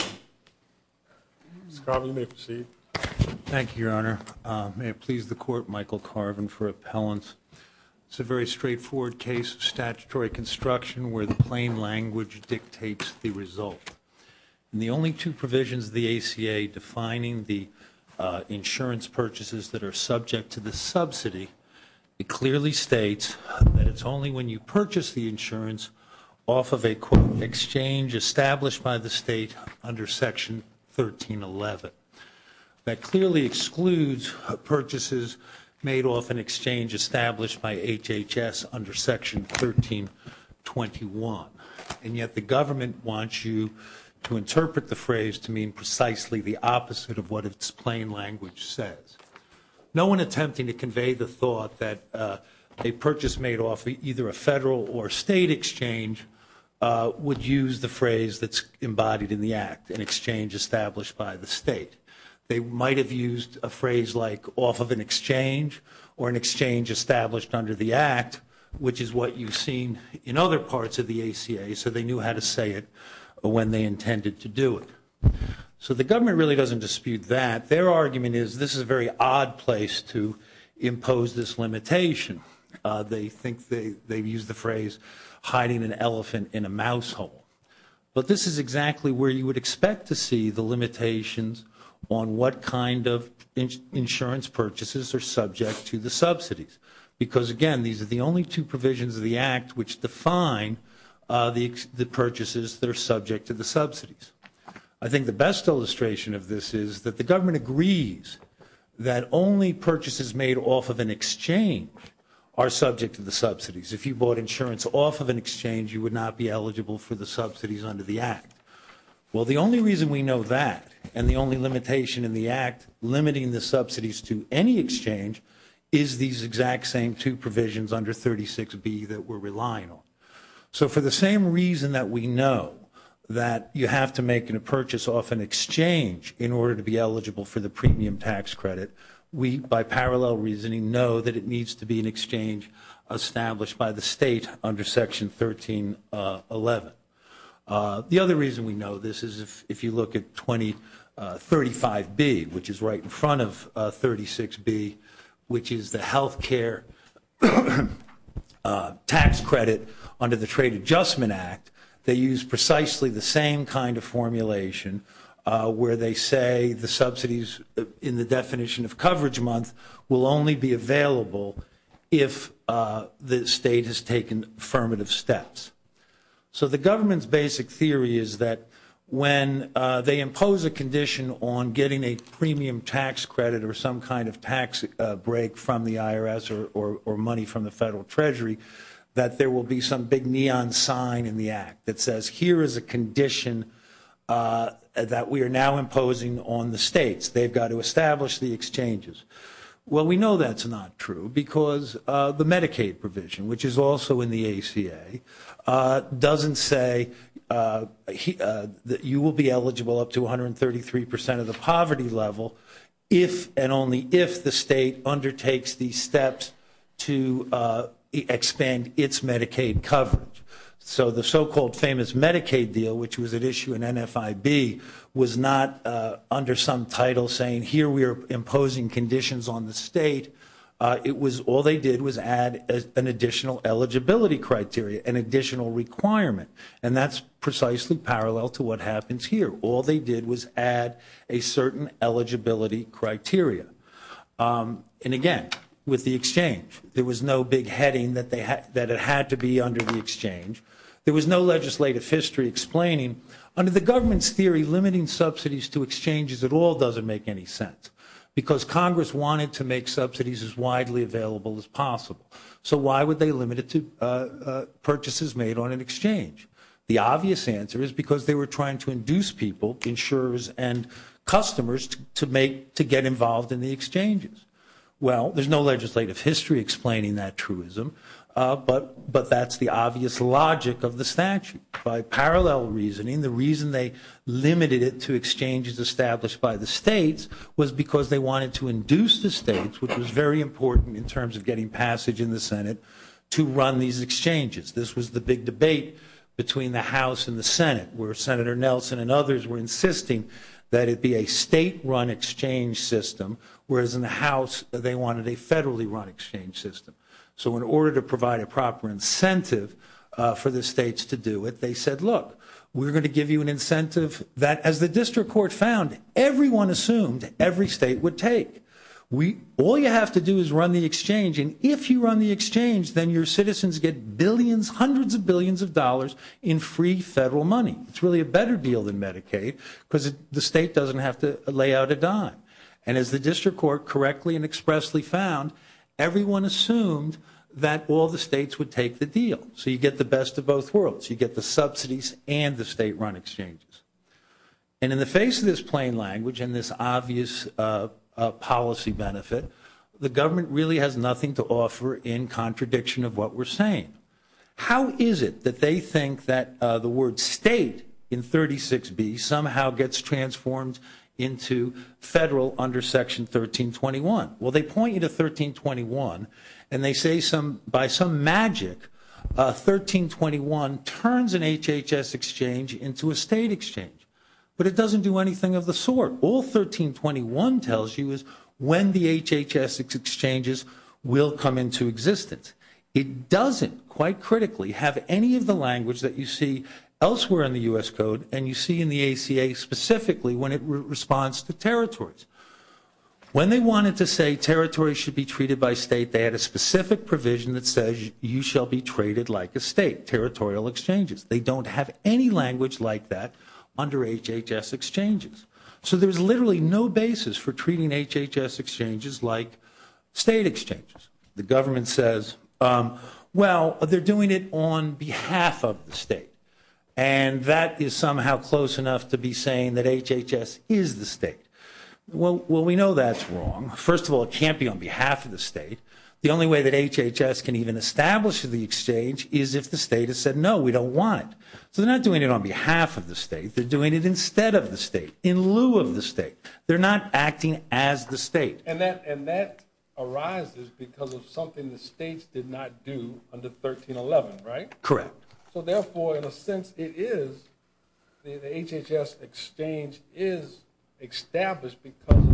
Mr. Carvin, you may proceed. Thank you, Your Honor. May it please the Court, Michael Carvin for appellants. It's a very straightforward case of statutory construction where the plain language dictates the result. In the only two provisions of the ACA defining the insurance purchases that are subject to the subsidy, it clearly states that it's only when you purchase the insurance off of a quote exchange established by the state under Section 1311. That clearly excludes purchases made off an exchange established by HHS under Section 1321. And yet the government wants you to interpret the phrase to mean precisely the opposite of what its plain language says. No one attempting to convey the thought that a purchase made off either a federal or state exchange would use the phrase that's embodied in the Act, an exchange established by the state. They might have used a phrase like off of an exchange or an exchange established under the Act, which is what you've seen in other parts of the ACA, so they knew how to say it when they intended to do it. So the government really doesn't dispute that. Their argument is this is a very odd place to impose this limitation. They think they've used the phrase hiding an elephant in a mouse hole. But this is exactly where you would expect to see the limitations on what kind of insurance purchases are subject to the subsidies. Because again, these are the only two provisions of the Act which define the purchases that are subject to the subsidies. I think the best illustration of this is that the government agrees that only purchases made off of an exchange are subject to the subsidies. If you bought insurance off of an exchange, you would not be eligible for the subsidies under the Act. Well, the only reason we know that and the only limitation in the Act limiting the subsidies to any exchange is these exact same two provisions under 36B that we're relying on. So for the same reason that we know that you have to make a purchase off an exchange in parallel reasoning, know that it needs to be an exchange established by the state under Section 1311. The other reason we know this is if you look at 2035B, which is right in front of 36B, which is the health care tax credit under the Trade Adjustment Act, they use precisely the same kind of formulation where they say the subsidies in the definition of coverage month will only be available if the state has taken affirmative steps. So the government's basic theory is that when they impose a condition on getting a premium tax credit or some kind of tax break from the IRS or money from the Federal Treasury, that there will be some big neon sign in the Act that says here is a condition that we are now imposing on the states. They've got to establish the exchanges. Well, we know that's not true because the Medicaid provision, which is also in the ACA, doesn't say that you will be eligible up to 133% of the poverty level if and only if the state undertakes the steps to expand its Medicaid coverage. So the so-called famous Medicaid deal, which was at issue in NFIB, was not under some title saying here we are imposing conditions on the state. It was all they did was add an additional eligibility criteria, an additional requirement, and that's precisely parallel to what happens here. All they did was add a certain eligibility criteria. And again, with the exchange, there was no big heading that it had to be under the exchange. There was no legislative history explaining. Under the government's theory, limiting subsidies to exchanges at all doesn't make any sense because Congress wanted to make subsidies as widely available as possible. So why would they limit it to purchases made on an exchange? The obvious answer is because they were trying to induce people, insurers and customers, to get involved in the exchanges. Well, there's no legislative history explaining that truism, but that's the obvious logic of the statute. By parallel reasoning, the reason they limited it to exchanges established by the states was because they wanted to induce the states, which was very important in terms of getting passage in the Senate, to run these exchanges. This was the big debate between the House and the Senate, where Senator Nelson and others were insisting that it be a state-run exchange system, whereas in the House, they wanted a federally-run exchange system. So in order to provide a proper incentive for the states to do it, they said, look, we're going to give you an incentive that, as the district court found, everyone assumed every state would take. All you have to do is run the exchange, and if you run the exchange, then your citizens get billions, hundreds of billions of dollars in free federal money. It's really a better deal than Medicaid because the state doesn't have to lay out a dime. And as the district court correctly and expressly found, everyone assumed that all the states would take the deal. So you get the best of both worlds. You get the subsidies and the state-run exchanges. And in the face of this plain language and this obvious policy benefit, the government really has nothing to offer in contradiction of what we're saying. How is it that they think that the word state in 36B somehow gets transformed into federal under Section 1321? Well, they point you to 1321, and they say by some magic, 1321 turns an HHS exchange into a state exchange. But it doesn't do anything of the sort. All 1321 tells you is when the HHS exchanges will come into existence. It doesn't, quite critically, have any of the language that you see elsewhere in the U.S. Code and you see in the ACA specifically when it responds to territories. When they wanted to say territories should be treated by state, they had a specific provision that says you shall be treated like a state, territorial exchanges. They don't have any language like that under HHS exchanges. So there's literally no basis for treating HHS exchanges like state exchanges. The government says, well, they're doing it on behalf of the state. And that is somehow close enough to be saying that HHS is the state. Well, we know that's wrong. First of all, it can't be on behalf of the state. The only way that HHS can even establish the exchange is if the state has said, no, we don't want it. So they're not doing it on behalf of the state. They're doing it instead of the state, in lieu of the state. They're not acting as the state. And that arises because of something the states did not do under 1311, right? Correct. So therefore, in a sense, it is, the HHS exchange is established because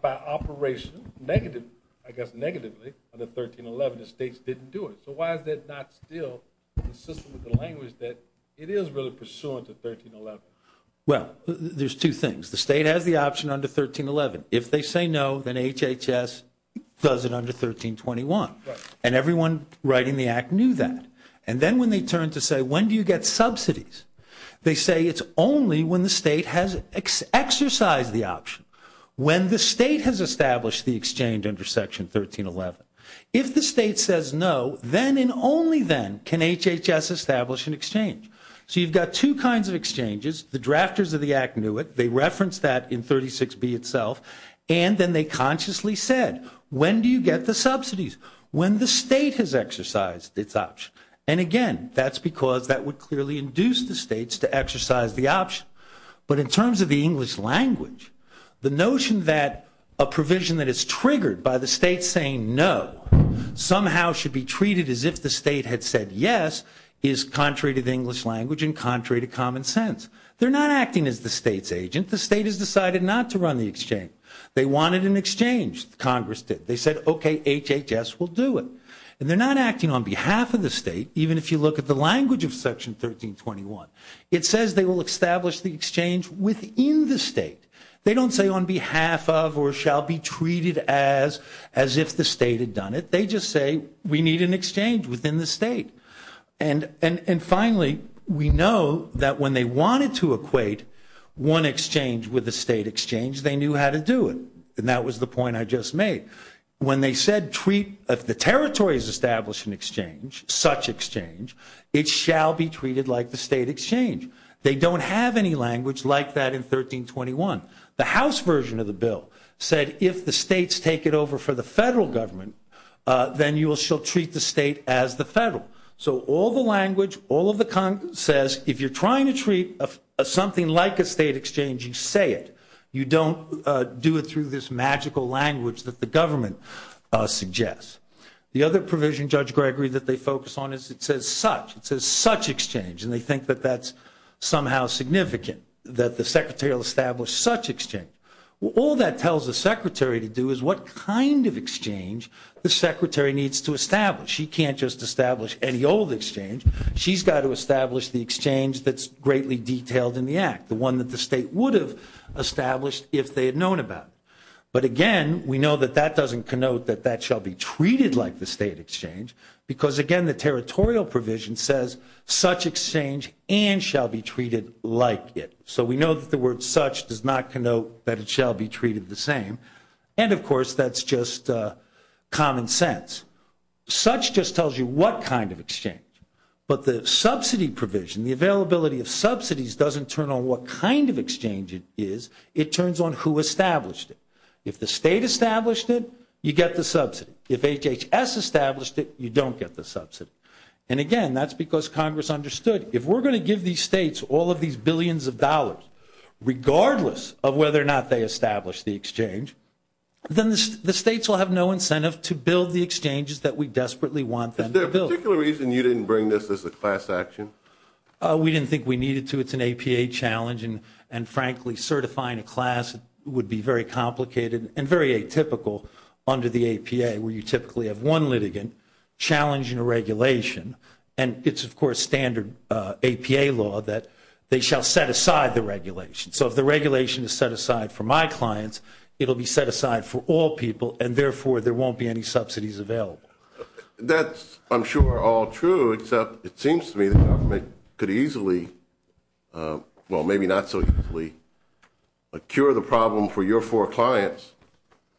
by operation, negative, I guess negatively, under 1311, the states didn't do it. So why is that not still consistent with the language that it is really pursuant to 1311? Well, there's two things. The state has the option under 1311. If they say no, then HHS does it under 1321. And everyone writing the act knew that. And then when they turn to say, when do you get subsidies? They say it's only when the state has exercised the option. When the state has established the exchange under Section 1311. If the state says no, then and only then can HHS establish an exchange. So you've got two kinds of exchanges. The drafters of the act knew it. They referenced that in 36B itself. And then they consciously said, when do you get the subsidies? When the state has exercised its option. And again, that's because that would clearly induce the states to exercise the option. But in terms of the English language, the notion that a provision that is triggered by the state saying no somehow should be treated as if the state had said yes is contrary to the English language and contrary to common sense. They're not acting as the state's agent. The state has decided not to run the exchange. They wanted an exchange. Congress did. They said, OK, HHS will do it. And they're not acting on behalf of the state, even if you look at the language of Section 1321. It says they will establish the exchange within the state. They don't say on behalf of or shall be treated as if the state had done it. They just say, we need an exchange within the state. And finally, we know that when they wanted to equate one exchange with a state exchange, they knew how to do it. And that was the point I just made. When they said, if the territories establish an exchange, such exchange, it shall be treated like the state exchange. They don't have any language like that in 1321. The House version of the bill said, if the states take it over for the federal government, then you shall treat the state as the federal. So all the language, all of the content says, if you're trying to treat something like a state exchange, you say it. You don't do it through this magical language that the government suggests. The other provision, Judge Gregory, that they focus on is it says such. It says such exchange. And they think that that's somehow significant, that the Secretary will establish such exchange. All that tells the Secretary to do is what kind of exchange the Secretary needs to establish. She can't just establish any old exchange. She's got to establish the exchange that's greatly detailed in the act, the one that the state would have established if they had known about it. But again, we know that that doesn't connote that that shall be treated like the state exchange, because again, the territorial provision says such exchange and shall be treated like it. So we know that the word such does not connote that it shall be treated the same. And of course, that's just common sense. Such just tells you what kind of exchange. But the subsidy provision, the availability of subsidies doesn't turn on what kind of exchange it is. It turns on who established it. If the state established it, you get the subsidy. If HHS established it, you don't get the subsidy. And again, that's because Congress understood, if we're going to give these states all of these billions of dollars, regardless of whether or not they establish the exchange, then the states will have no incentive to build the exchanges that we desperately want them to build. Is there a particular reason you didn't bring this as a class action? We didn't think we needed to. It's an APA challenge. And frankly, certifying a class would be very complicated and very atypical under the APA, where you typically have one litigant challenging a regulation. And it's, of course, standard APA law that they shall set aside the regulation. So if the regulation is set aside for my clients, it'll be set aside for all people. And therefore, there won't be any subsidies available. That's, I'm sure, all true, except it seems to me that government could easily, well, maybe not so easily, cure the problem for your four clients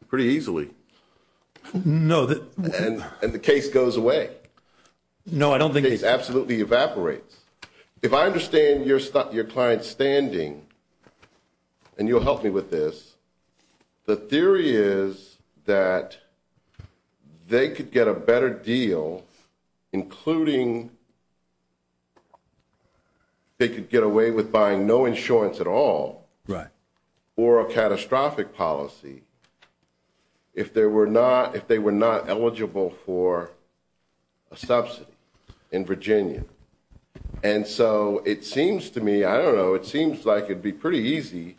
pretty easily. No. And the case goes away. No, I don't think. The case absolutely evaporates. If I understand your client's standing, and you'll help me with this, the theory is that they could get a better deal, including they could get away with buying no insurance at all. Right. Or a catastrophic policy if they were not eligible for a subsidy in Virginia. And so it seems to me, I don't know, it seems like it'd be pretty easy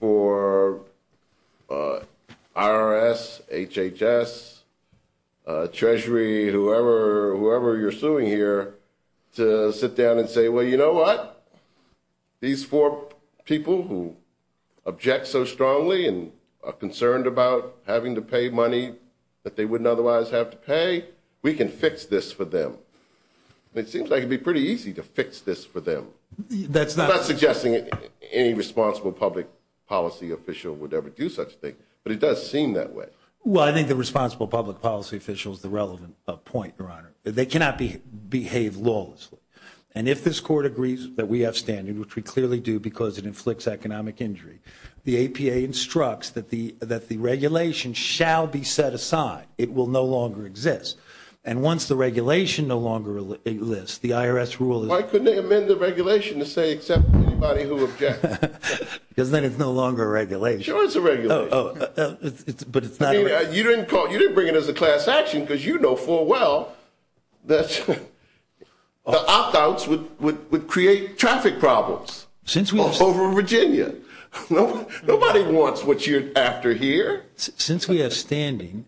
for IRS, HHS, Treasury, whoever you're suing here, to sit down and say, well, you know what? These four people who object so strongly and are concerned about having to pay money that they wouldn't otherwise have to pay, we can fix this for them. It seems like it'd be pretty easy to fix this for them. That's not suggesting any responsible public policy official would ever do such a thing. But it does seem that way. Well, I think the responsible public policy official is the relevant point, Your Honor. They cannot behave lawlessly. And if this Court agrees that we have standing, which we clearly do because it inflicts economic injury, the APA instructs that the regulation shall be set aside. It will no longer exist. And once the regulation no longer exists, the IRS rule is- Why couldn't they amend the regulation to say, accept anybody who objects? Because then it's no longer a regulation. Sure, it's a regulation. Oh, but it's not- You didn't bring it as a class action because you know full well that the opt-outs would create traffic problems over Virginia. Nobody wants what you're after here. Since we have standing,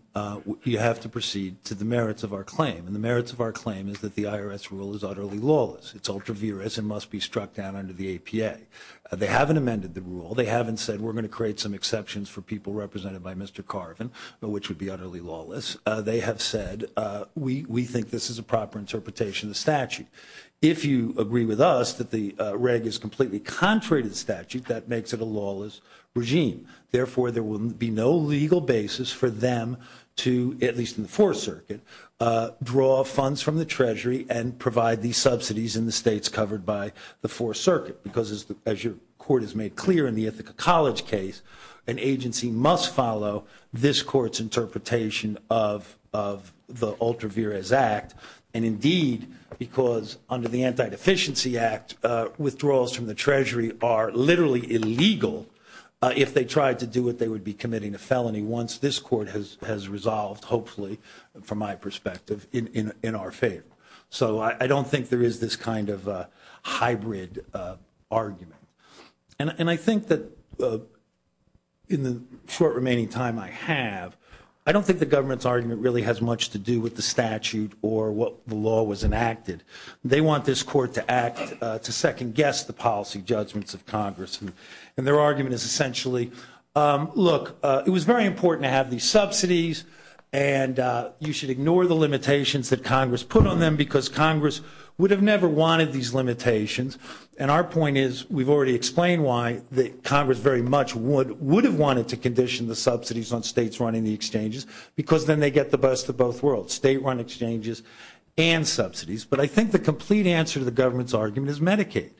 you have to proceed to the merits of our claim. And the merits of our claim is that the IRS rule is utterly lawless. It's ultra-virus and must be struck down under the APA. They haven't amended the rule. They haven't said, we're going to create some exceptions for people represented by Mr. Carvin, which would be utterly lawless. They have said, we think this is a proper interpretation of the statute. If you agree with us that the reg is completely contrary to the statute, that makes it a lawless regime. Therefore, there will be no legal basis for them to, at least in the Fourth Circuit, draw funds from the Treasury and provide these subsidies in the states covered by the Fourth Circuit. Because as your court has made clear in the Ithaca College case, an agency must follow this court's interpretation of the Ultra-Virus Act. And indeed, because under the Anti-Deficiency Act, withdrawals from the Treasury are literally illegal if they tried to do what they would be committing a felony once this court has resolved, hopefully, from my perspective, in our favor. So I don't think there is this kind of hybrid argument. And I think that in the short remaining time I have, I don't think the government's argument really has much to do with the statute or what the law was enacted. They want this court to act to second guess the policy judgments of Congress. And their argument is essentially, look, it was very important to have these subsidies. And you should ignore the limitations that Congress put on them, because Congress would have never wanted these limitations. And our point is, we've already explained why Congress very much would have wanted to condition the subsidies on states running the exchanges, because then they get the best of both worlds, state-run exchanges and subsidies. But I think the complete answer to the government's argument is Medicaid.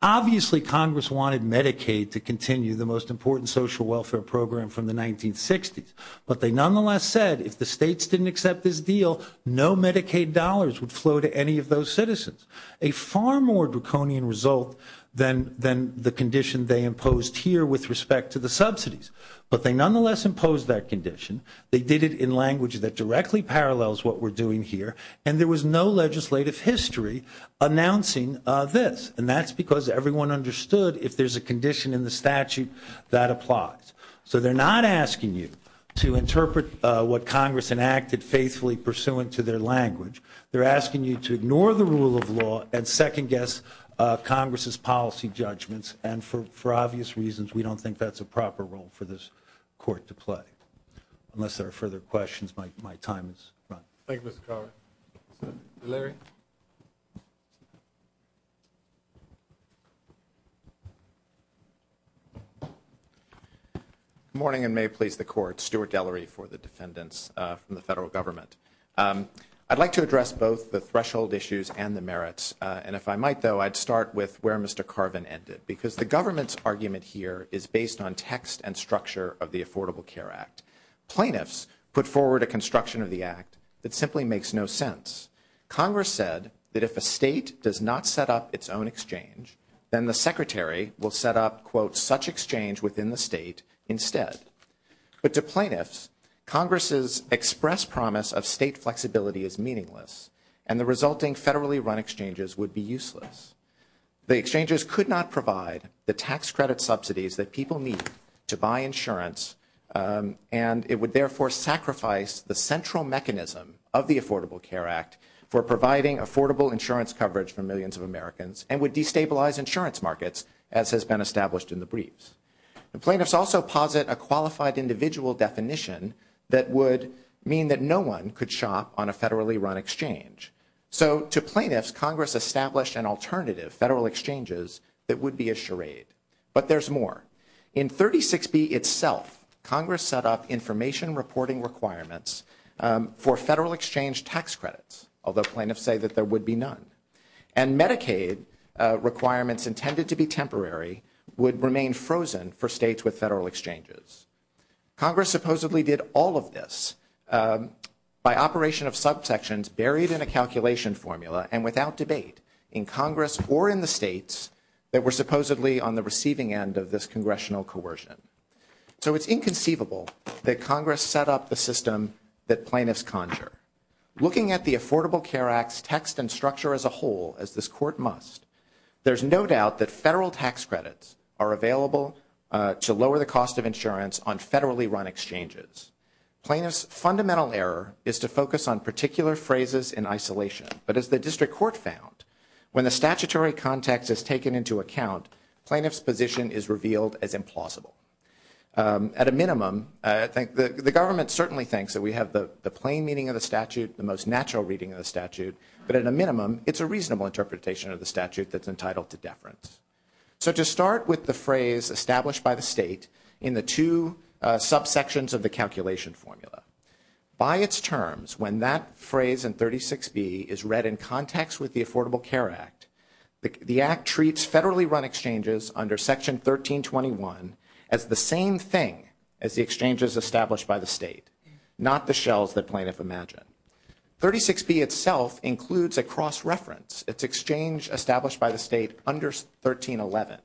Obviously, Congress wanted Medicaid to continue the most important social welfare program from the 1960s. But they nonetheless said, if the states didn't accept this deal, no Medicaid dollars would flow to any of those citizens. A far more draconian result than the condition they imposed here with respect to the subsidies. But they nonetheless imposed that condition. They did it in language that directly parallels what we're doing here. And there was no legislative history announcing this. And that's because everyone understood, if there's a condition in the statute, that applies. So they're not asking you to interpret what Congress enacted faithfully pursuant to their language. They're asking you to ignore the rule of law and second-guess Congress's policy judgments. And for obvious reasons, we don't think that's a proper role for this court to play. Unless there are further questions, my time is up. Thank you, Mr. Connery. Larry? Good morning, and may it please the Court. Stuart Delery for the defendants from the federal government. I'd like to address both the threshold issues and the merits. And if I might, though, I'd start with where Mr. Carvin ended. Because the government's argument here is based on text and structure of the Affordable Care Act. Plaintiffs put forward a construction of the Act that simply makes no sense. Congress said that if a state does not set up its own exchange, then the Secretary will set up, quote, such exchange within the state instead. But to plaintiffs, Congress's express promise of state flexibility is meaningless, and the resulting federally run exchanges would be useless. The exchanges could not provide the tax credit subsidies that people need to buy insurance, and it would therefore sacrifice the central mechanism of the Affordable Care Act for providing affordable insurance coverage for millions of Americans and would destabilize insurance markets, as has been established in the briefs. Plaintiffs also posit a qualified individual definition that would mean that no one could shop on a federally run exchange. So to plaintiffs, Congress established an alternative, federal exchanges, that would be a charade. But there's more. In 36B itself, Congress set up information reporting requirements for federal exchange tax credits, although plaintiffs say that there would be none. And Medicaid requirements intended to be temporary would remain frozen for states with federal exchanges. Congress supposedly did all of this by operation of subsections buried in a calculation formula and without debate in Congress or in the states that were supposedly on the receiving end of this congressional coercion. So it's inconceivable that Congress set up the system that plaintiffs conjure. Looking at the Affordable Care Act's text and structure as a whole, as this Court must, there's no doubt that federal tax credits are available to lower the cost of insurance on federally run exchanges. Plaintiffs' fundamental error is to focus on particular phrases in isolation. But as the District Court found, when the statutory context is taken into account, plaintiffs' position is revealed as implausible. At a minimum, the government certainly thinks that we have the plain meaning of the statute, the most natural reading of the statute, but at a minimum, it's a reasonable interpretation of the statute that's entitled to deference. So to start with the phrase established by the state in the two subsections of the calculation formula, by its terms, when that phrase in 36B is read in context with the Affordable Care Act, the Act treats federally run exchanges under Section 1321 as the same thing as the exchanges established by the state, not the shells that plaintiffs imagine. 36B itself includes a cross-reference. It's exchange established by the state under 1311.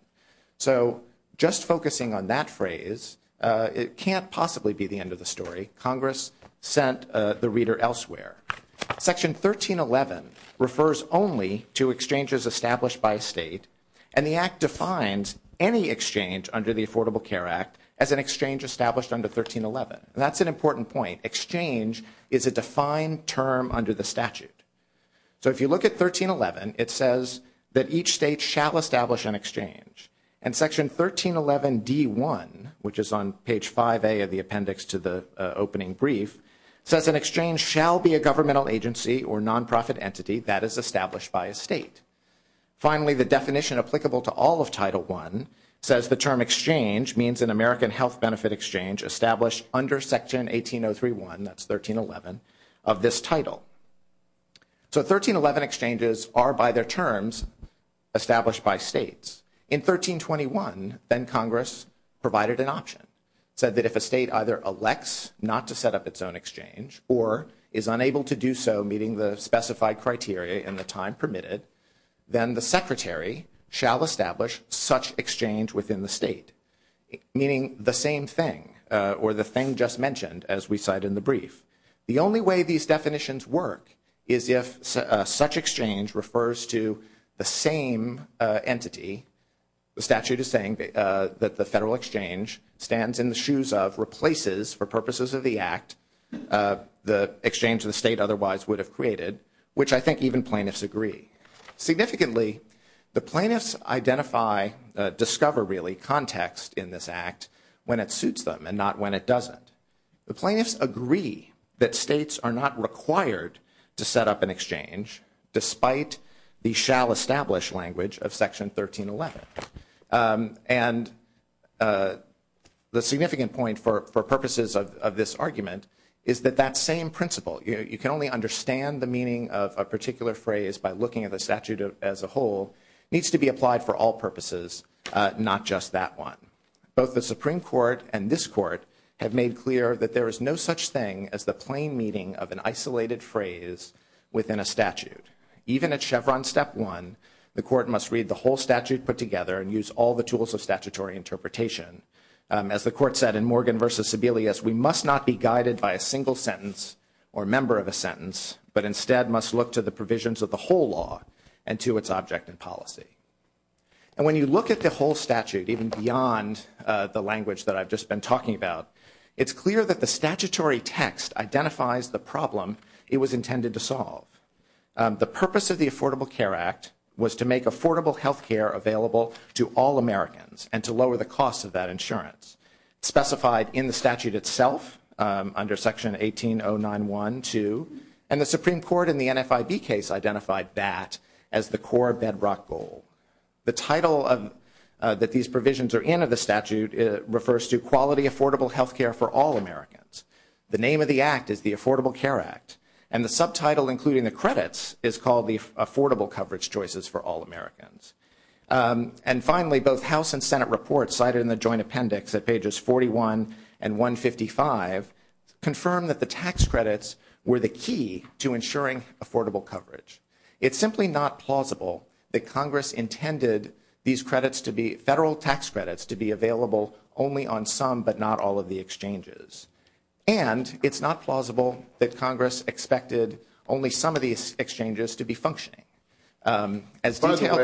So just focusing on that phrase, it can't possibly be the end of the story. Congress sent the reader elsewhere. Section 1311 refers only to exchanges established by a state, and the Act defines any exchange under the Affordable Care Act as an exchange established under 1311. That's an important point. Exchange is a defined term under the statute. So if you look at 1311, it says that each state shall establish an exchange. And Section 1311D1, which is on page 5A of the appendix to the opening brief, says an governmental agency or non-profit entity that is established by a state. Finally, the definition applicable to all of Title I says the term exchange means an American health benefit exchange established under Section 18031, that's 1311, of this title. So 1311 exchanges are, by their terms, established by states. In 1321, then Congress provided an option, said that if a state either elects not to do so, meeting the specified criteria and the time permitted, then the Secretary shall establish such exchange within the state, meaning the same thing, or the thing just mentioned, as we cite in the brief. The only way these definitions work is if such exchange refers to the same entity. The statute is saying that the federal exchange stands in the shoes of, replaces, for purposes of the act, the exchange the state otherwise would have created, which I think even plaintiffs agree. Significantly, the plaintiffs identify, discover really, context in this act when it suits them and not when it doesn't. The plaintiffs agree that states are not required to set up an exchange despite the shall establish language of Section 1311. And the significant point for purposes of this argument is that that same principle, you can only understand the meaning of a particular phrase by looking at the statute as a whole, needs to be applied for all purposes, not just that one. Both the Supreme Court and this Court have made clear that there is no such thing as the plain meaning of an isolated phrase within a statute. Even at Chevron Step 1, the Court must read the whole statute put together and use all the tools of statutory interpretation. As the Court said in Morgan v. Sebelius, we must not be guided by a single sentence or member of a sentence, but instead must look to the provisions of the whole law and to its object and policy. And when you look at the whole statute, even beyond the language that I've just been talking about, it's clear that the statutory text identifies the problem it was intended to solve. The purpose of the Affordable Care Act was to make affordable health care available to all Americans and to lower the cost of that insurance. Specified in the statute itself under Section 18091-2, and the Supreme Court in the NFIB case identified that as the core bedrock goal. The title that these provisions are in of the statute refers to quality affordable health care for all Americans. The name of the Act is the Affordable Care Act, and the subtitle including the credits is called the Affordable Coverage Choices for All Americans. And finally, both House and Senate reports cited in the Joint Appendix at pages 41 and 155 confirm that the tax credits were the key to ensuring affordable coverage. It's simply not plausible that Congress intended these credits to be, federal tax credits, to be available only on some but not all of the exchanges. And it's not plausible that Congress expected only some of these exchanges to be functioning. As detailed, yes. By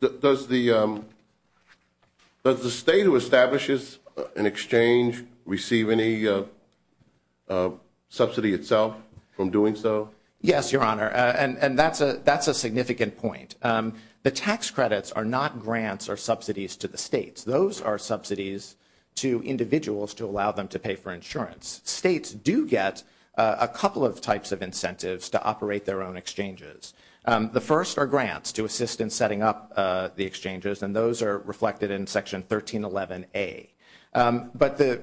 the way, does the state who establishes an exchange receive any subsidy itself from doing so? Yes, Your Honor, and that's a significant point. The tax credits are not grants or subsidies to the states. Those are subsidies to individuals to allow them to pay for insurance. States do get a couple of types of incentives to operate their own exchanges. The first are grants to assist in setting up the exchanges, and those are reflected in Section 1311A. But the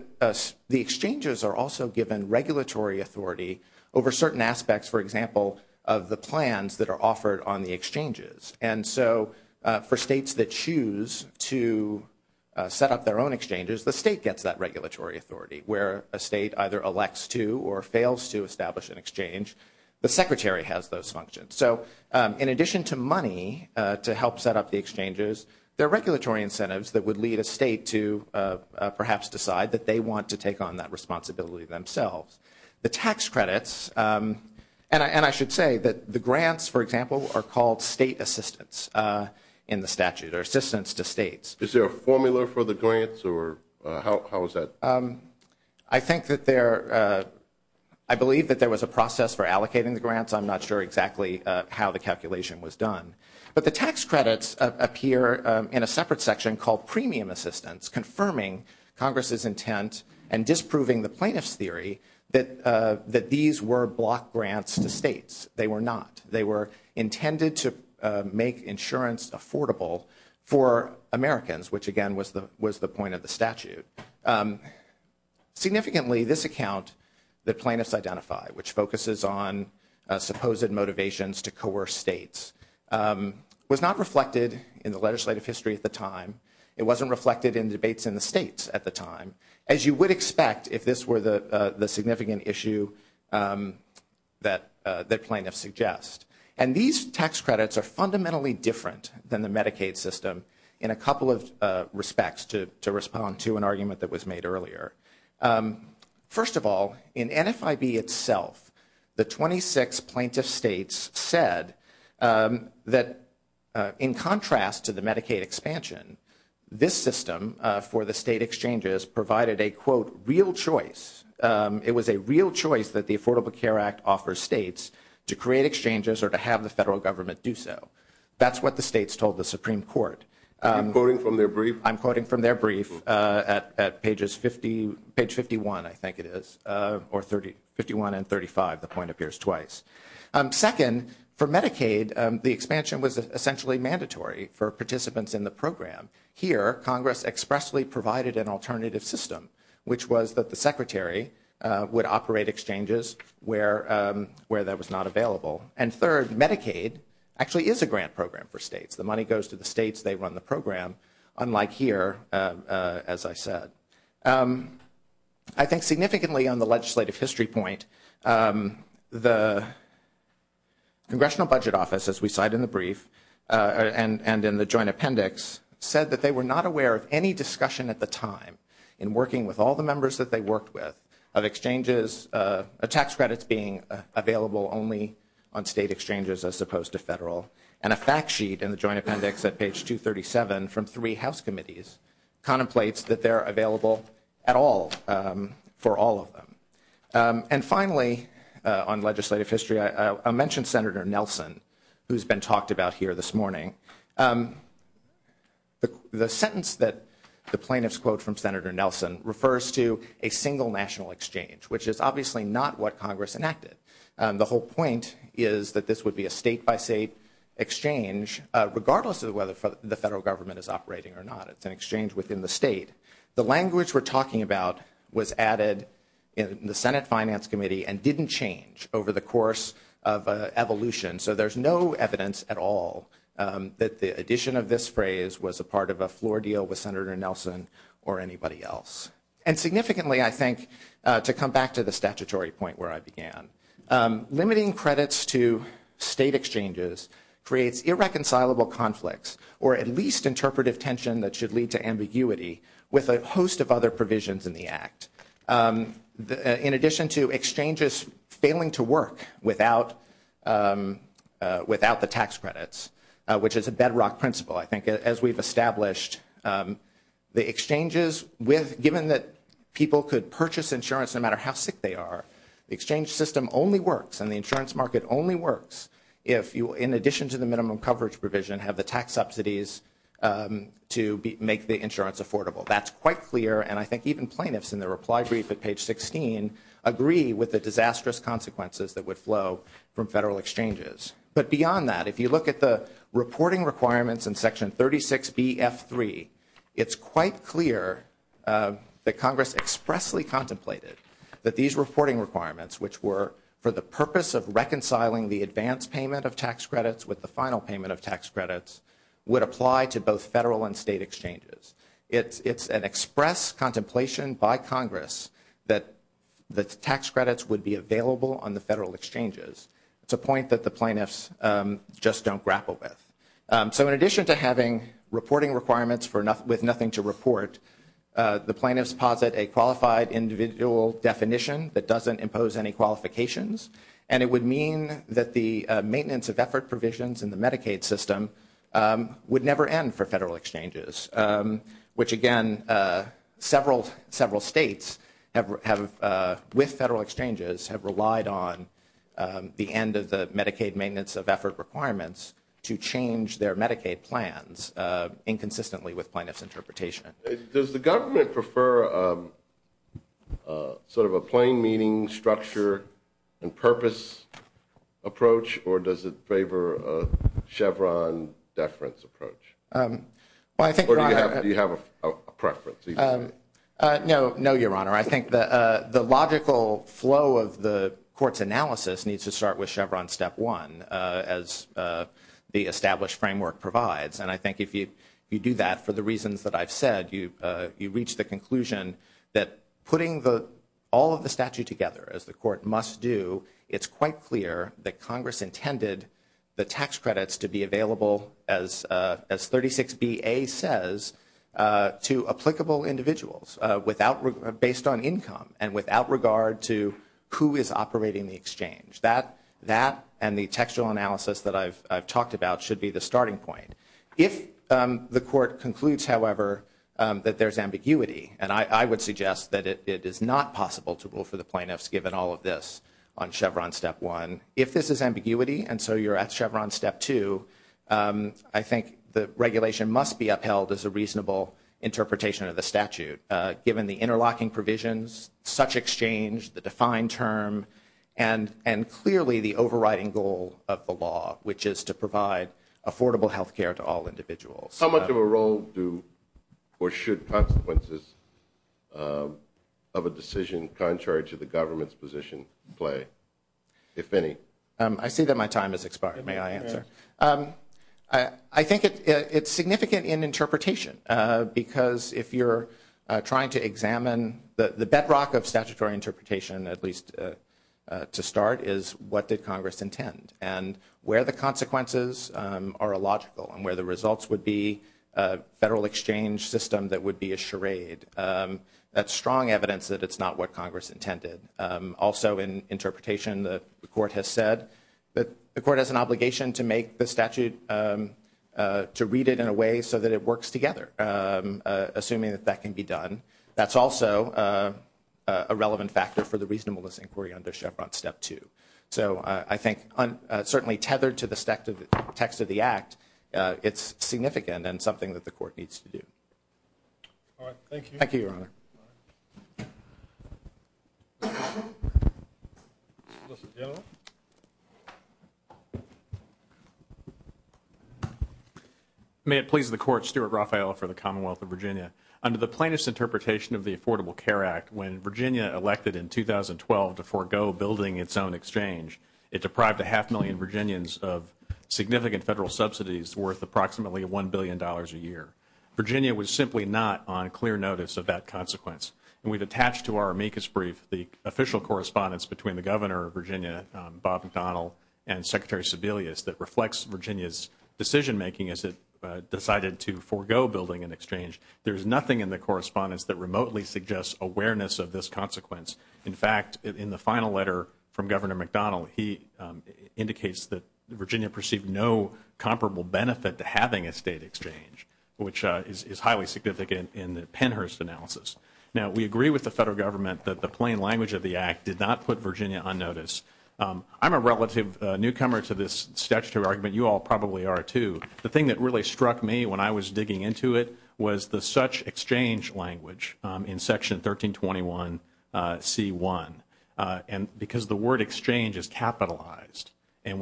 exchanges are also given regulatory authority over certain aspects, for example, of the plans that are offered on the exchanges. And so for states that choose to set up their own exchanges, the state gets that regulatory authority. Where a state either elects to or fails to establish an exchange, the Secretary has those functions. So in addition to money to help set up the exchanges, there are regulatory incentives that would lead a state to perhaps decide that they want to take on that responsibility themselves. The tax credits, and I should say that the grants, for example, are called state assistance in the statute, or assistance to states. Is there a formula for the grants, or how is that? I think that there, I believe that there was a process for allocating the grants. I'm not sure exactly how the calculation was done. But the tax credits appear in a separate section called premium assistance, confirming Congress's intent and disproving the plaintiff's theory that these were block grants to states. They were not. They were intended to make insurance affordable for Americans, which again was the point of the statute. Significantly, this account that plaintiffs identify, which focuses on supposed motivations to coerce states, was not reflected in the legislative history at the time. It wasn't reflected in debates in the states at the time, as you would expect if this were the significant issue that plaintiffs suggest. And these tax credits are fundamentally different than the Medicaid system in a couple of respects to respond to an argument that was made earlier. First of all, in NFIB itself, the 26 plaintiff states said that in contrast to the Medicaid expansion, this system for the state exchanges provided a, quote, real choice. It was a real choice that the Affordable Care Act offers states to create exchanges or to have the federal government do so. That's what the states told the Supreme Court. Are you quoting from their brief? I'm quoting from their brief at pages 50, page 51, I think it is, or 51 and 35. The point appears twice. Second, for Medicaid, the expansion was essentially mandatory for participants in the program. Here, Congress expressly provided an alternative system, which was that the Secretary would operate exchanges where that was not available. And third, Medicaid actually is a grant program for states. The money goes to the states. They run the program, unlike here, as I said. I think significantly on the legislative history point, the Congressional Budget Office, as we cite in the brief and in the joint appendix, said that they were not aware of any discussion at the time in working with all the members that they worked with of exchanges, tax credits being available only on state exchanges as opposed to federal. And a fact sheet in the joint appendix at page 237 from three House committees contemplates that they're available at all for all of them. And finally, on legislative history, I mentioned Senator Nelson, who's been talked about here this morning. The sentence that the plaintiffs quote from Senator Nelson refers to a single national exchange, which is obviously not what Congress enacted. The whole point is that this would be a state by state exchange, regardless of whether the federal government is operating or not. It's an exchange within the state. The language we're talking about was added in the Senate Finance Committee and didn't change over the course of evolution. So there's no evidence at all that the addition of this phrase was a part of a floor deal with Senator Nelson or anybody else. And significantly, I think, to come back to the statutory point where I began, limiting credits to state exchanges creates irreconcilable conflicts or at least interpretive tension that should lead to ambiguity with a host of other provisions in the act. In addition to exchanges failing to work without the tax credits, which is a bedrock principle, I think, as we've established, the exchanges, given that people could purchase insurance no matter how sick they are, the exchange system only works and the insurance market only works if you, in addition to the minimum coverage provision, have the tax subsidies to make the insurance affordable. That's quite clear. And I think even plaintiffs, in their reply brief at page 16, agree with the disastrous consequences that would flow from federal exchanges. But beyond that, if you look at the reporting requirements in Section 36BF3, it's quite clear that Congress expressly contemplated that these reporting requirements, which were for the purpose of reconciling the advance payment of tax credits with the final payment of tax credits, would apply to both federal and state exchanges. It's an express contemplation by Congress that the tax credits would be available on the federal exchanges. It's a point that the plaintiffs just don't grapple with. So in addition to having reporting requirements with nothing to report, the plaintiffs posit a qualified individual definition that doesn't impose any qualifications, and it would mean that the maintenance of effort provisions in the Medicaid system would never end for federal exchanges, which, again, several states have, with federal exchanges, have relied on the end of the Medicaid maintenance of effort requirements to change their Medicaid plans inconsistently with plaintiffs' interpretation. Does the government prefer sort of a plain meaning structure and purpose approach, or does it favor a Chevron deference approach? Do you have a preference? No, Your Honor. I think the logical flow of the Court's analysis needs to start with Chevron step one, as the established framework provides. And I think if you do that, for the reasons that I've said, you reach the conclusion that putting all of the statute together, as the Court must do, it's quite clear that Congress intended the tax credits to be available, as 36BA says, to applicable individuals based on income and without regard to who is operating the exchange. That and the textual analysis that I've talked about should be the starting point. If the Court concludes, however, that there's ambiguity, and I would suggest that it is not possible to rule for the plaintiffs given all of this on Chevron step one. If this is ambiguity, and so you're at Chevron step two, I think the regulation must be upheld as a reasonable interpretation of the statute, given the interlocking provisions, such exchange, the defined term, and clearly the overriding goal of the law, which is to provide affordable health care to all individuals. How much of a role do or should consequences of a decision contrary to the government's position play, if any? I see that my time has expired. May I answer? I think it's significant in interpretation, because if you're trying to examine the bedrock of statutory interpretation, at least to start, is what did Congress intend, and where the results would be a federal exchange system that would be a charade. That's strong evidence that it's not what Congress intended. Also, in interpretation, the Court has said that the Court has an obligation to make the statute, to read it in a way so that it works together, assuming that that can be done. That's also a relevant factor for the reasonableness inquiry under Chevron step two. I think, certainly tethered to the text of the Act, it's significant and something that the Court needs to do. All right. Thank you. Thank you, Your Honor. May it please the Court, Stuart Raphael for the Commonwealth of Virginia. Under the plaintiff's interpretation of the Affordable Care Act, when Virginia elected in 2012 to forego building its own exchange, it deprived a half million Virginians of significant federal subsidies worth approximately $1 billion a year. Virginia was simply not on clear notice of that consequence. We've attached to our amicus brief the official correspondence between the governor of Virginia, Bob McDonnell, and Secretary Sebelius, that reflects Virginia's decision making as it decided to forego building an exchange. There's nothing in the correspondence that remotely suggests awareness of this consequence. In fact, in the final letter from Governor McDonnell, he indicates that Virginia perceived no comparable benefit to having a state exchange, which is highly significant in the Pennhurst analysis. Now, we agree with the federal government that the plain language of the Act did not put Virginia on notice. I'm a relative newcomer to this statutory argument. You all probably are, too. The thing that really struck me when I was digging into it was the such exchange language in Section 1321C1, because the word exchange is capitalized, and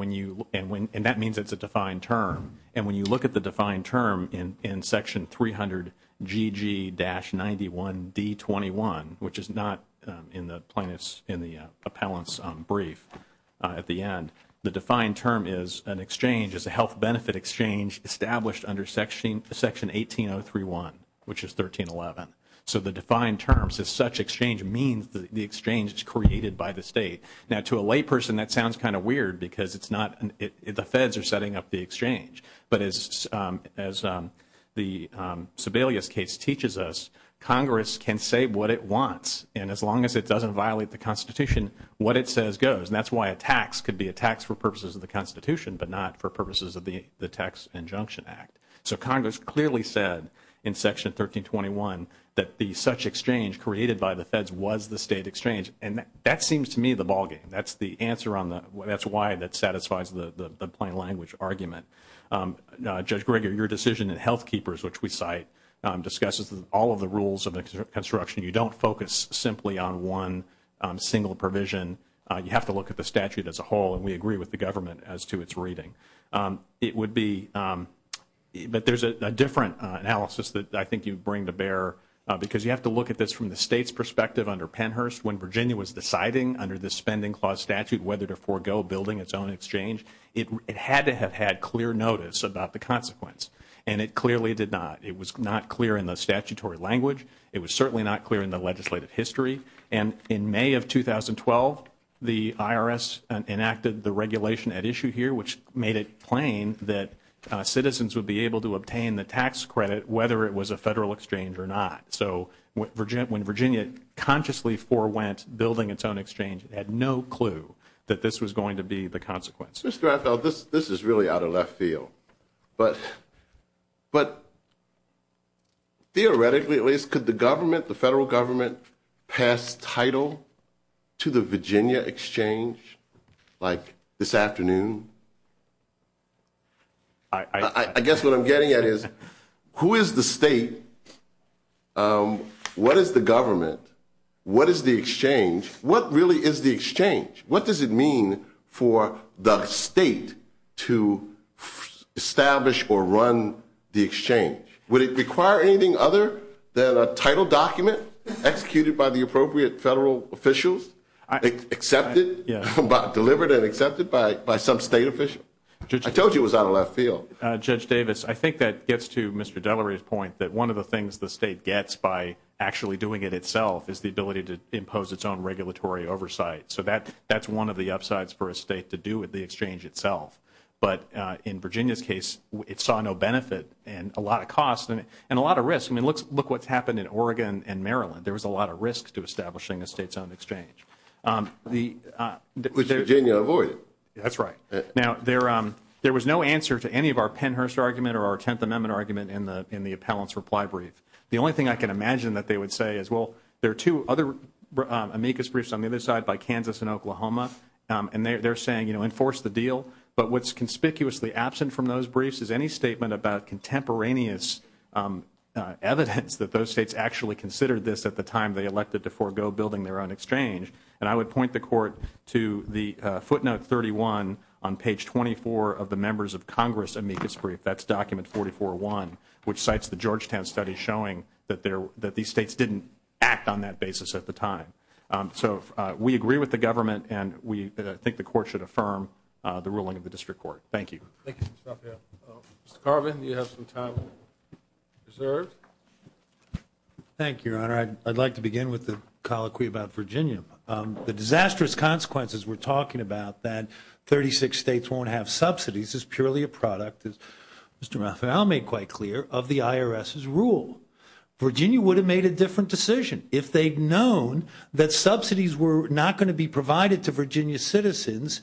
that means it's a defined term. And when you look at the defined term in Section 300GG-91D21, which is not in the plaintiff's in the appellant's brief at the end, the defined term is an exchange, is a health benefit exchange established under Section 18031, which is 1311. So the defined terms is such exchange means the exchange is created by the state. Now, to a layperson, that sounds kind of weird, because the feds are setting up the exchange. But as the Sebelius case teaches us, Congress can say what it wants, and as long as it doesn't violate the Constitution, what it says goes. And that's why a tax could be a tax for purposes of the Constitution, but not for purposes of the Tax Injunction Act. So Congress clearly said in Section 1321 that the such exchange created by the feds was the state exchange. And that seems to me the ballgame. That's the answer on the that's why that satisfies the plain language argument. Judge Greger, your decision in Health Keepers, which we cite, discusses all of the rules of construction. You don't focus simply on one single provision. You have to look at the statute as a whole, and we agree with the government as to its reading. But there's a different analysis that I think you bring to bear, because you have to look at this from the state's perspective under Pennhurst. When Virginia was deciding under the Spending Clause statute whether to forego building its own exchange, it had to have had clear notice about the consequence. And it clearly did not. It was not clear in the statutory language. It was certainly not clear in the legislative history. And in May of 2012, the IRS enacted the regulation at issue here, which made it plain that citizens would be able to obtain the tax credit whether it was a federal exchange or not. So when Virginia consciously forewent building its own exchange, it had no clue that this was going to be the consequence. This is really out of left field. But theoretically, at least, could the government, the federal government, pass title to the Virginia exchange like this afternoon? I guess what I'm getting at is, who is the state? What is the government? What is the exchange? What really is the exchange? What does it mean for the state to establish or run the exchange? Would it require anything other than a title document executed by the appropriate federal officials, accepted, delivered and accepted by some state official? I told you it was out of left field. Judge Davis, I think that gets to Mr. Delery's point that one of the things the state gets by actually doing it itself is the ability to impose its own regulatory oversight. So that's one of the upsides for a state to do with the exchange itself. But in Virginia's case, it saw no benefit and a lot of cost and a lot of risk. I mean, look what's happened in Oregon and Maryland. There was a lot of risk to establishing a state-owned exchange. Would Virginia avoid it? That's right. Now, there was no answer to any of our Pennhurst argument or our Tenth Amendment argument in the appellant's reply brief. The only thing I can imagine that they would say is, well, there are two other amicus briefs on the other side by Kansas and Oklahoma, and they're saying, you know, enforce the deal. But what's conspicuously absent from those briefs is any statement about contemporaneous evidence that those states actually considered this at the time they elected to forego building their own exchange. And I would point the Court to the footnote 31 on page 24 of the members of Congress amicus brief. That's document 44-1, which cites the Georgetown study showing that these states didn't act on that basis at the time. So we agree with the government, and I think the Court should affirm the ruling of the District Court. Thank you. Thank you, Mr. Raphael. Mr. Carvin, you have some time reserved. Thank you, Your Honor. I'd like to begin with the colloquy about Virginia. The disastrous consequences we're talking about, that 36 states won't have subsidies, is purely a product, as Mr. Raphael made quite clear, of the IRS's rule. Virginia would have made a different decision if they'd known subsidies were not going to be provided to Virginia citizens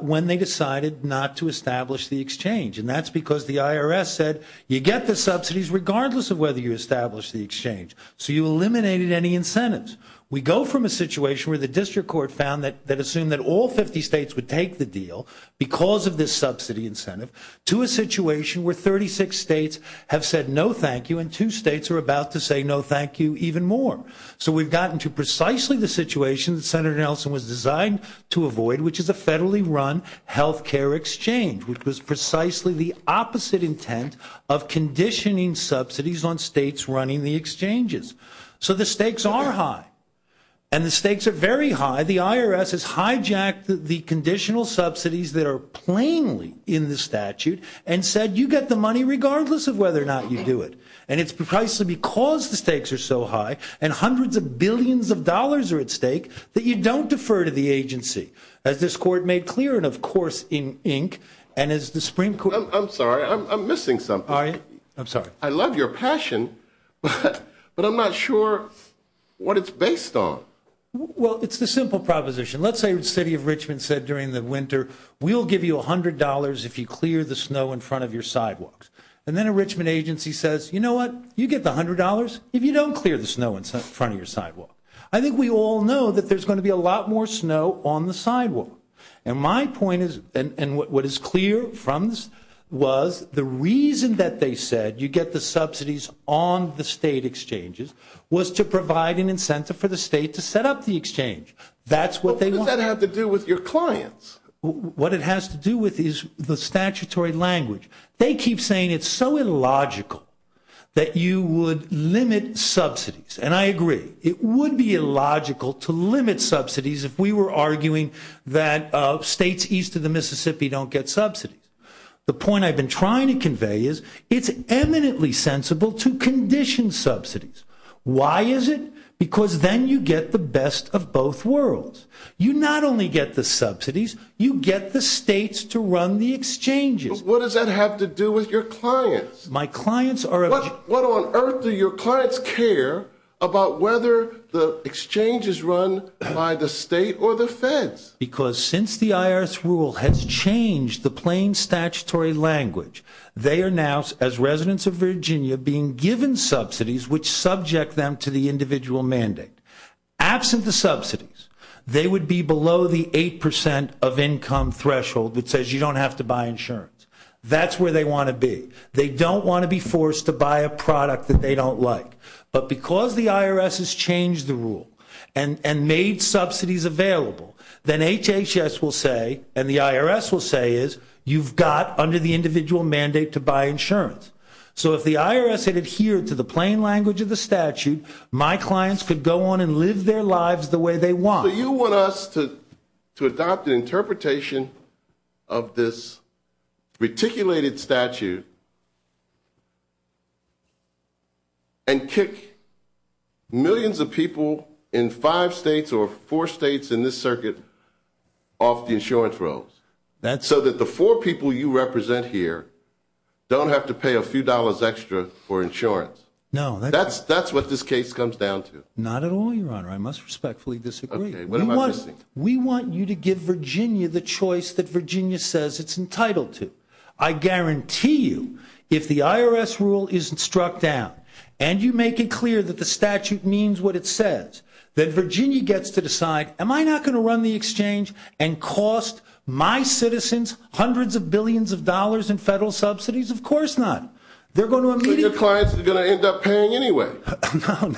when they decided not to establish the exchange. And that's because the IRS said, you get the subsidies regardless of whether you establish the exchange. So you eliminated any incentives. We go from a situation where the District Court found that all 50 states would take the deal because of this subsidy incentive to a situation where 36 states have said no thank you, and two states are about to say no thank you even more. So we've gotten to precisely the situation that Senator Nelson was designed to avoid, which is a federally run health care exchange, which was precisely the opposite intent of conditioning subsidies on states running the exchanges. So the stakes are high. And the stakes are very high. The IRS has hijacked the conditional subsidies that are plainly in the statute and said, you get the money regardless of whether or not you do it. And it's precisely because the stakes are so high and hundreds of billions of dollars are at stake that you don't defer to the agency. As this court made clear, and of course in ink, and as the Supreme Court. I'm sorry, I'm missing something. All right. I'm sorry. I love your passion, but I'm not sure what it's based on. Well, it's the simple proposition. Let's say the city of Richmond said during the winter, we'll give you $100 if you clear the snow in front of your sidewalks. And then a Richmond agency says, you know what? You get the $100 if you don't clear the snow in front of your sidewalk. I think we all know that there's going to be a lot more snow on the sidewalk. And my point is, and what is clear from this was the reason that they said you get the subsidies on the state exchanges was to provide an incentive for the state to set up the exchange. That's what they want. What does that have to do with your clients? What it has to do with is the statutory language. They keep saying it's so illogical that you would limit subsidies. And I agree. It would be illogical to limit subsidies if we were arguing that states east of the Mississippi don't get subsidies. The point I've been trying to convey is it's eminently sensible to condition subsidies. Why is it? Because then you get the best of both worlds. You not only get the subsidies, you get the states to run the exchanges. What does that have to do with your clients? My clients are. What on earth do your clients care about whether the exchange is run by the state or the feds? Because since the IRS rule has changed the plain statutory language, they are now as residents of Virginia being given subsidies, which subject them to the individual mandate. Absent the subsidies, they would be below the 8% of income threshold that says you don't have to buy insurance. That's where they want to be. They don't want to be forced to buy a product that they don't like. But because the IRS has changed the rule and made subsidies available, then HHS will say, and the IRS will say is, you've got under the individual mandate to buy insurance. So if the IRS had adhered to the plain language of the statute, my clients could go on and live their lives the way they want. You want us to adopt an interpretation of this reticulated statute and kick millions of people in five states or four states in this circuit off the insurance rolls so that the four people you represent here don't have to pay a few dollars extra for insurance? No. That's what this case comes down to. Not at all, Your Honor. I must respectfully disagree. What am I missing? We want you to give Virginia the choice that Virginia says it's entitled to. I guarantee you, if the IRS rule isn't struck down and you make it clear that the statute means what it says, that Virginia gets to decide, am I not going to run the exchange and cost my citizens hundreds of billions of dollars in federal subsidies? Of course not. They're going to immediately- So your clients are going to end up paying anyway.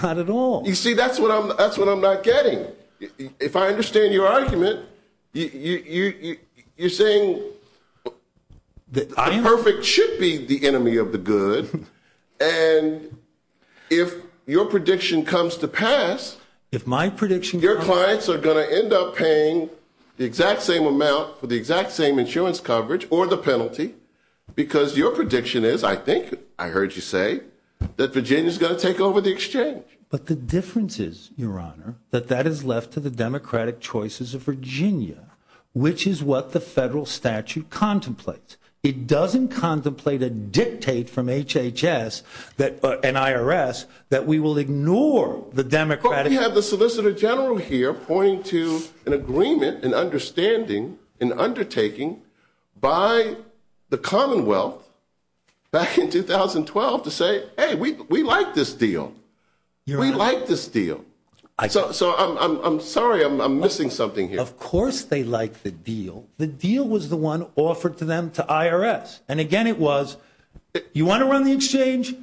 Not at all. You see, that's what I'm not getting. If I understand your argument, you're saying the perfect should be the enemy of the good. And if your prediction comes to pass- If my prediction- Your clients are going to end up paying the exact same amount for the exact same insurance coverage or the penalty because your prediction is, I think I heard you say, that Virginia is going to take over the exchange. But the difference is, your honor, that that is left to the democratic choices of Virginia, which is what the federal statute contemplates. It doesn't contemplate a dictate from HHS and IRS that we will ignore the democratic- But we have the Solicitor General here pointing to an agreement, an understanding, an undertaking by the Commonwealth back in 2012 to say, hey, we like this deal. We like this deal. So I'm sorry, I'm missing something here. Of course they like the deal. The deal was the one offered to them to IRS. And again, it was, you want to run the exchange,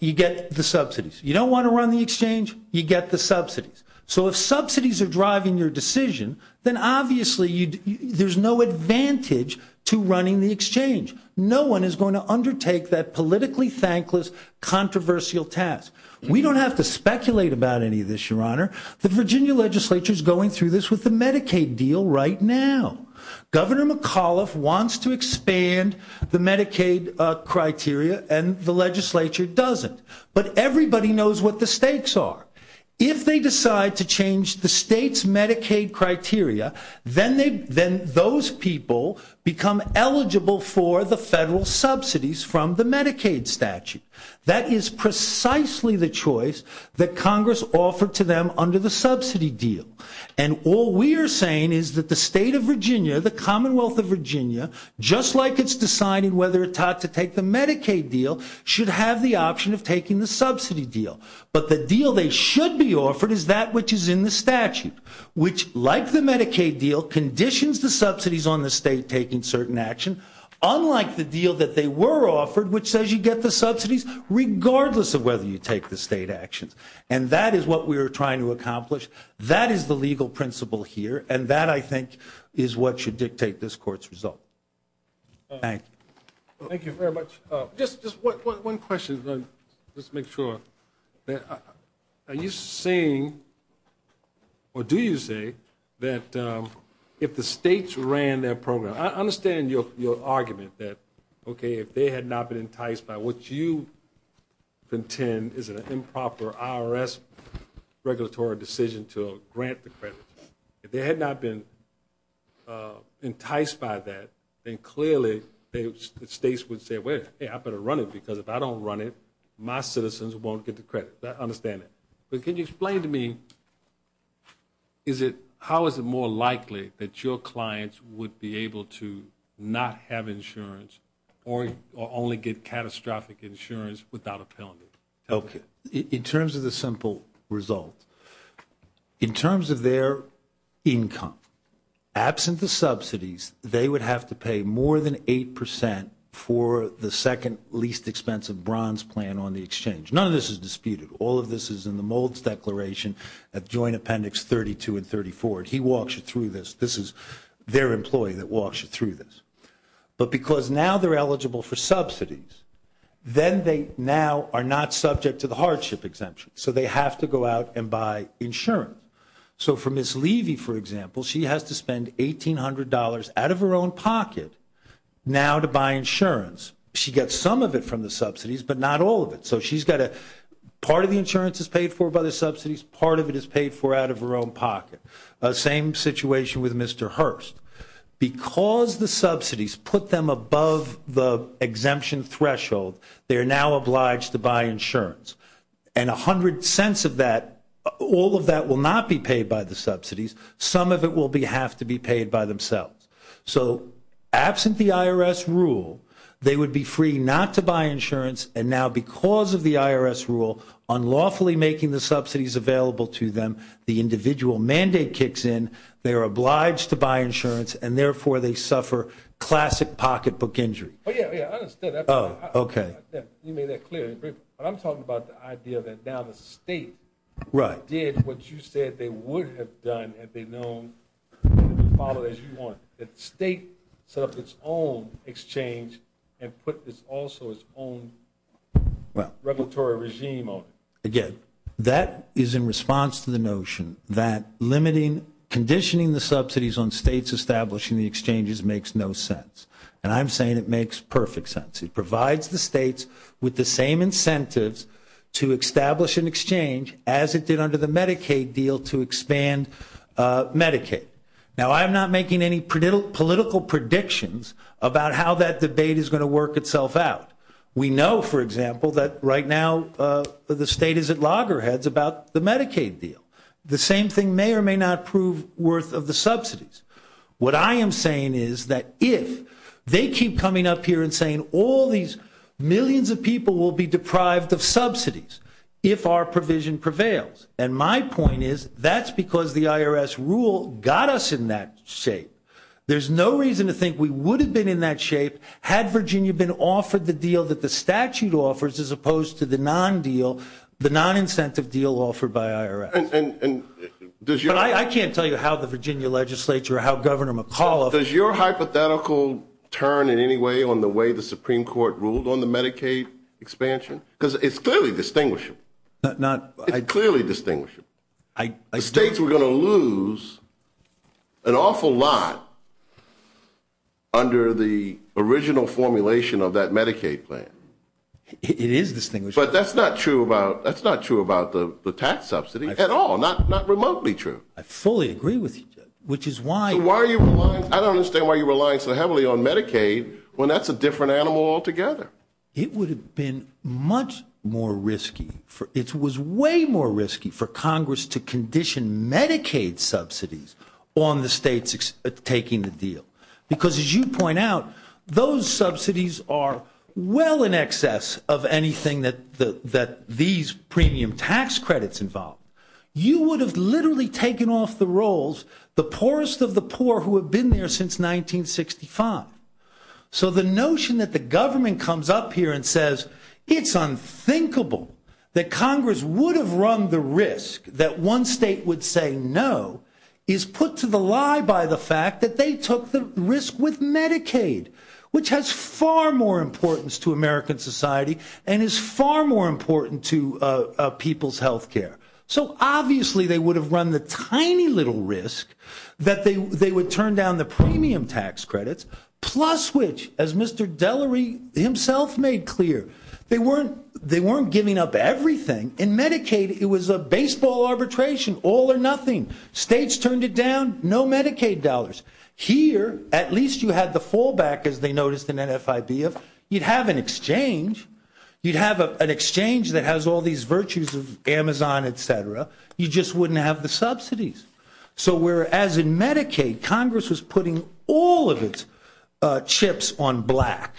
you get the subsidies. You don't want to run the exchange, you get the subsidies. So if subsidies are driving your decision, then obviously there's no advantage to running the exchange. No one is going to undertake that politically thankless, controversial task. We don't have to speculate about any of this, your honor. The Virginia legislature is going through this with the Medicaid deal right now. Governor McAuliffe wants to expand the Medicaid criteria and the legislature doesn't. But everybody knows what the stakes are. If they decide to change the state's Medicaid criteria, then those people become eligible for the federal subsidies from the Medicaid statute. That is precisely the choice that Congress offered to them under the subsidy deal. And all we are saying is that the state of Virginia, the Commonwealth of Virginia, just like it's deciding whether it ought to take the Medicaid deal, should have the option of taking the subsidy deal. But the deal they should be offered is that which is in the statute, which like the Medicaid deal, conditions the subsidies on the state taking certain action, unlike the deal that they were offered, which says you get the subsidies regardless of whether you take the state actions. And that is what we are trying to accomplish. That is the legal principle here. And that, I think, is what should dictate this Court's result. Thank you. Thank you very much. Just one question, just to make sure. Are you saying, or do you say, that if the states ran their program? I understand your argument that, okay, if they had not been enticed by what you contend is an improper IRS regulatory decision to grant the credit. If they had not been enticed by that, then clearly the states would say, wait, I better run it because if I don't run it, my citizens won't get the credit. I understand that. But can you explain to me, is it, how is it more likely that your clients would be able to not have insurance or only get catastrophic insurance without a penalty? Okay. In terms of the simple result, in terms of their income, absent the subsidies, they would have to pay more than 8% for the second least expensive bronze plan on the exchange. None of this is disputed. All of this is in the Mould's declaration at Joint Appendix 32 and 34. And he walks you through this. This is their employee that walks you through this. But because now they're eligible for subsidies, then they now are not subject to the hardship exemption. So they have to go out and buy insurance. So for Ms. Levy, for example, she has to spend $1,800 out of her own pocket now to buy insurance. She gets some of it from the subsidies, but not all of it. So she's got to, part of the insurance is paid for by the subsidies. Part of it is paid for out of her own pocket. Same situation with Mr. Hurst. Because the subsidies put them above the exemption threshold, they are now obliged to buy insurance. And $0.10 of that, all of that will not be paid by the subsidies. Some of it will have to be paid by themselves. So absent the IRS rule, they would be free not to buy insurance. And now because of the IRS rule, unlawfully making the subsidies available to them, the And therefore, they suffer classic pocketbook injury. Oh, yeah, yeah. I understand that. Oh, okay. You made that clear. But I'm talking about the idea that now the state did what you said they would have done had they known that the state set up its own exchange and put also its own regulatory regime on it. Again, that is in response to the notion that limiting, conditioning the subsidies on states establishing the exchanges makes no sense. And I'm saying it makes perfect sense. It provides the states with the same incentives to establish an exchange as it did under the Medicaid deal to expand Medicaid. Now, I'm not making any political predictions about how that debate is going to work itself out. We know, for example, that right now the state is at loggerheads about the Medicaid deal. The same thing may or may not prove worth of the subsidies. What I am saying is that if they keep coming up here and saying all these millions of people will be deprived of subsidies if our provision prevails. And my point is that's because the IRS rule got us in that shape. There's no reason to think we would have been in that shape had Virginia been offered the deal that the statute offers as opposed to the non-deal, the non-incentive deal offered by IRS. And I can't tell you how the Virginia legislature or how Governor McAuliffe. Does your hypothetical turn in any way on the way the Supreme Court ruled on the Medicaid expansion? Because it's clearly distinguishable. It's clearly distinguishable. The states were going to lose an awful lot under the original formulation of that Medicaid plan. It is distinguishable. But that's not true about the tax subsidy. Not remotely true. I fully agree with you, which is why. I don't understand why you rely so heavily on Medicaid when that's a different animal altogether. It would have been much more risky. It was way more risky for Congress to condition Medicaid subsidies on the states taking the deal. Because as you point out, those subsidies are well in excess of anything that these premium tax credits involve. You would have literally taken off the rolls the poorest of the poor who have been there since 1965. So the notion that the government comes up here and says it's unthinkable that Congress would have run the risk that one state would say no is put to the lie by the fact that they took the risk with Medicaid, which has far more importance to American society and is far more important to people's health care. So obviously they would have run the tiny little risk that they would turn down the premium tax credits, plus which, as Mr. Delery himself made clear, they weren't giving up everything. In Medicaid, it was a baseball arbitration, all or nothing. States turned it down. No Medicaid dollars. Here, at least you had the fallback, as they noticed in NFIB, of you'd have an exchange. You'd have an exchange that has all these virtues of Amazon, et cetera. You just wouldn't have the subsidies. So whereas in Medicaid, Congress was putting all of its chips on black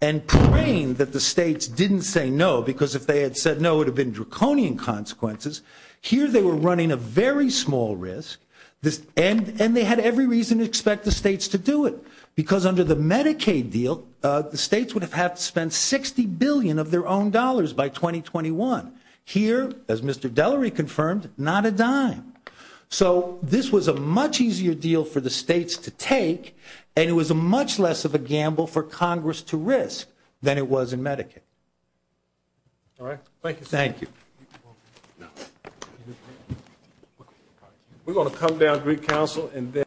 and praying that the states didn't say no, because if they had said no, it would have been draconian consequences. Here they were running a very small risk, and they had every reason to expect the states to do it. Because under the Medicaid deal, the states would have had to spend $60 billion of their own dollars by 2021. Here, as Mr. Delery confirmed, not a dime. So this was a much easier deal for the states to take, and it was much less of a gamble for Congress to risk than it was in Medicaid. All right. Thank you, sir. Thank you. We're going to come down to Greek Council, and then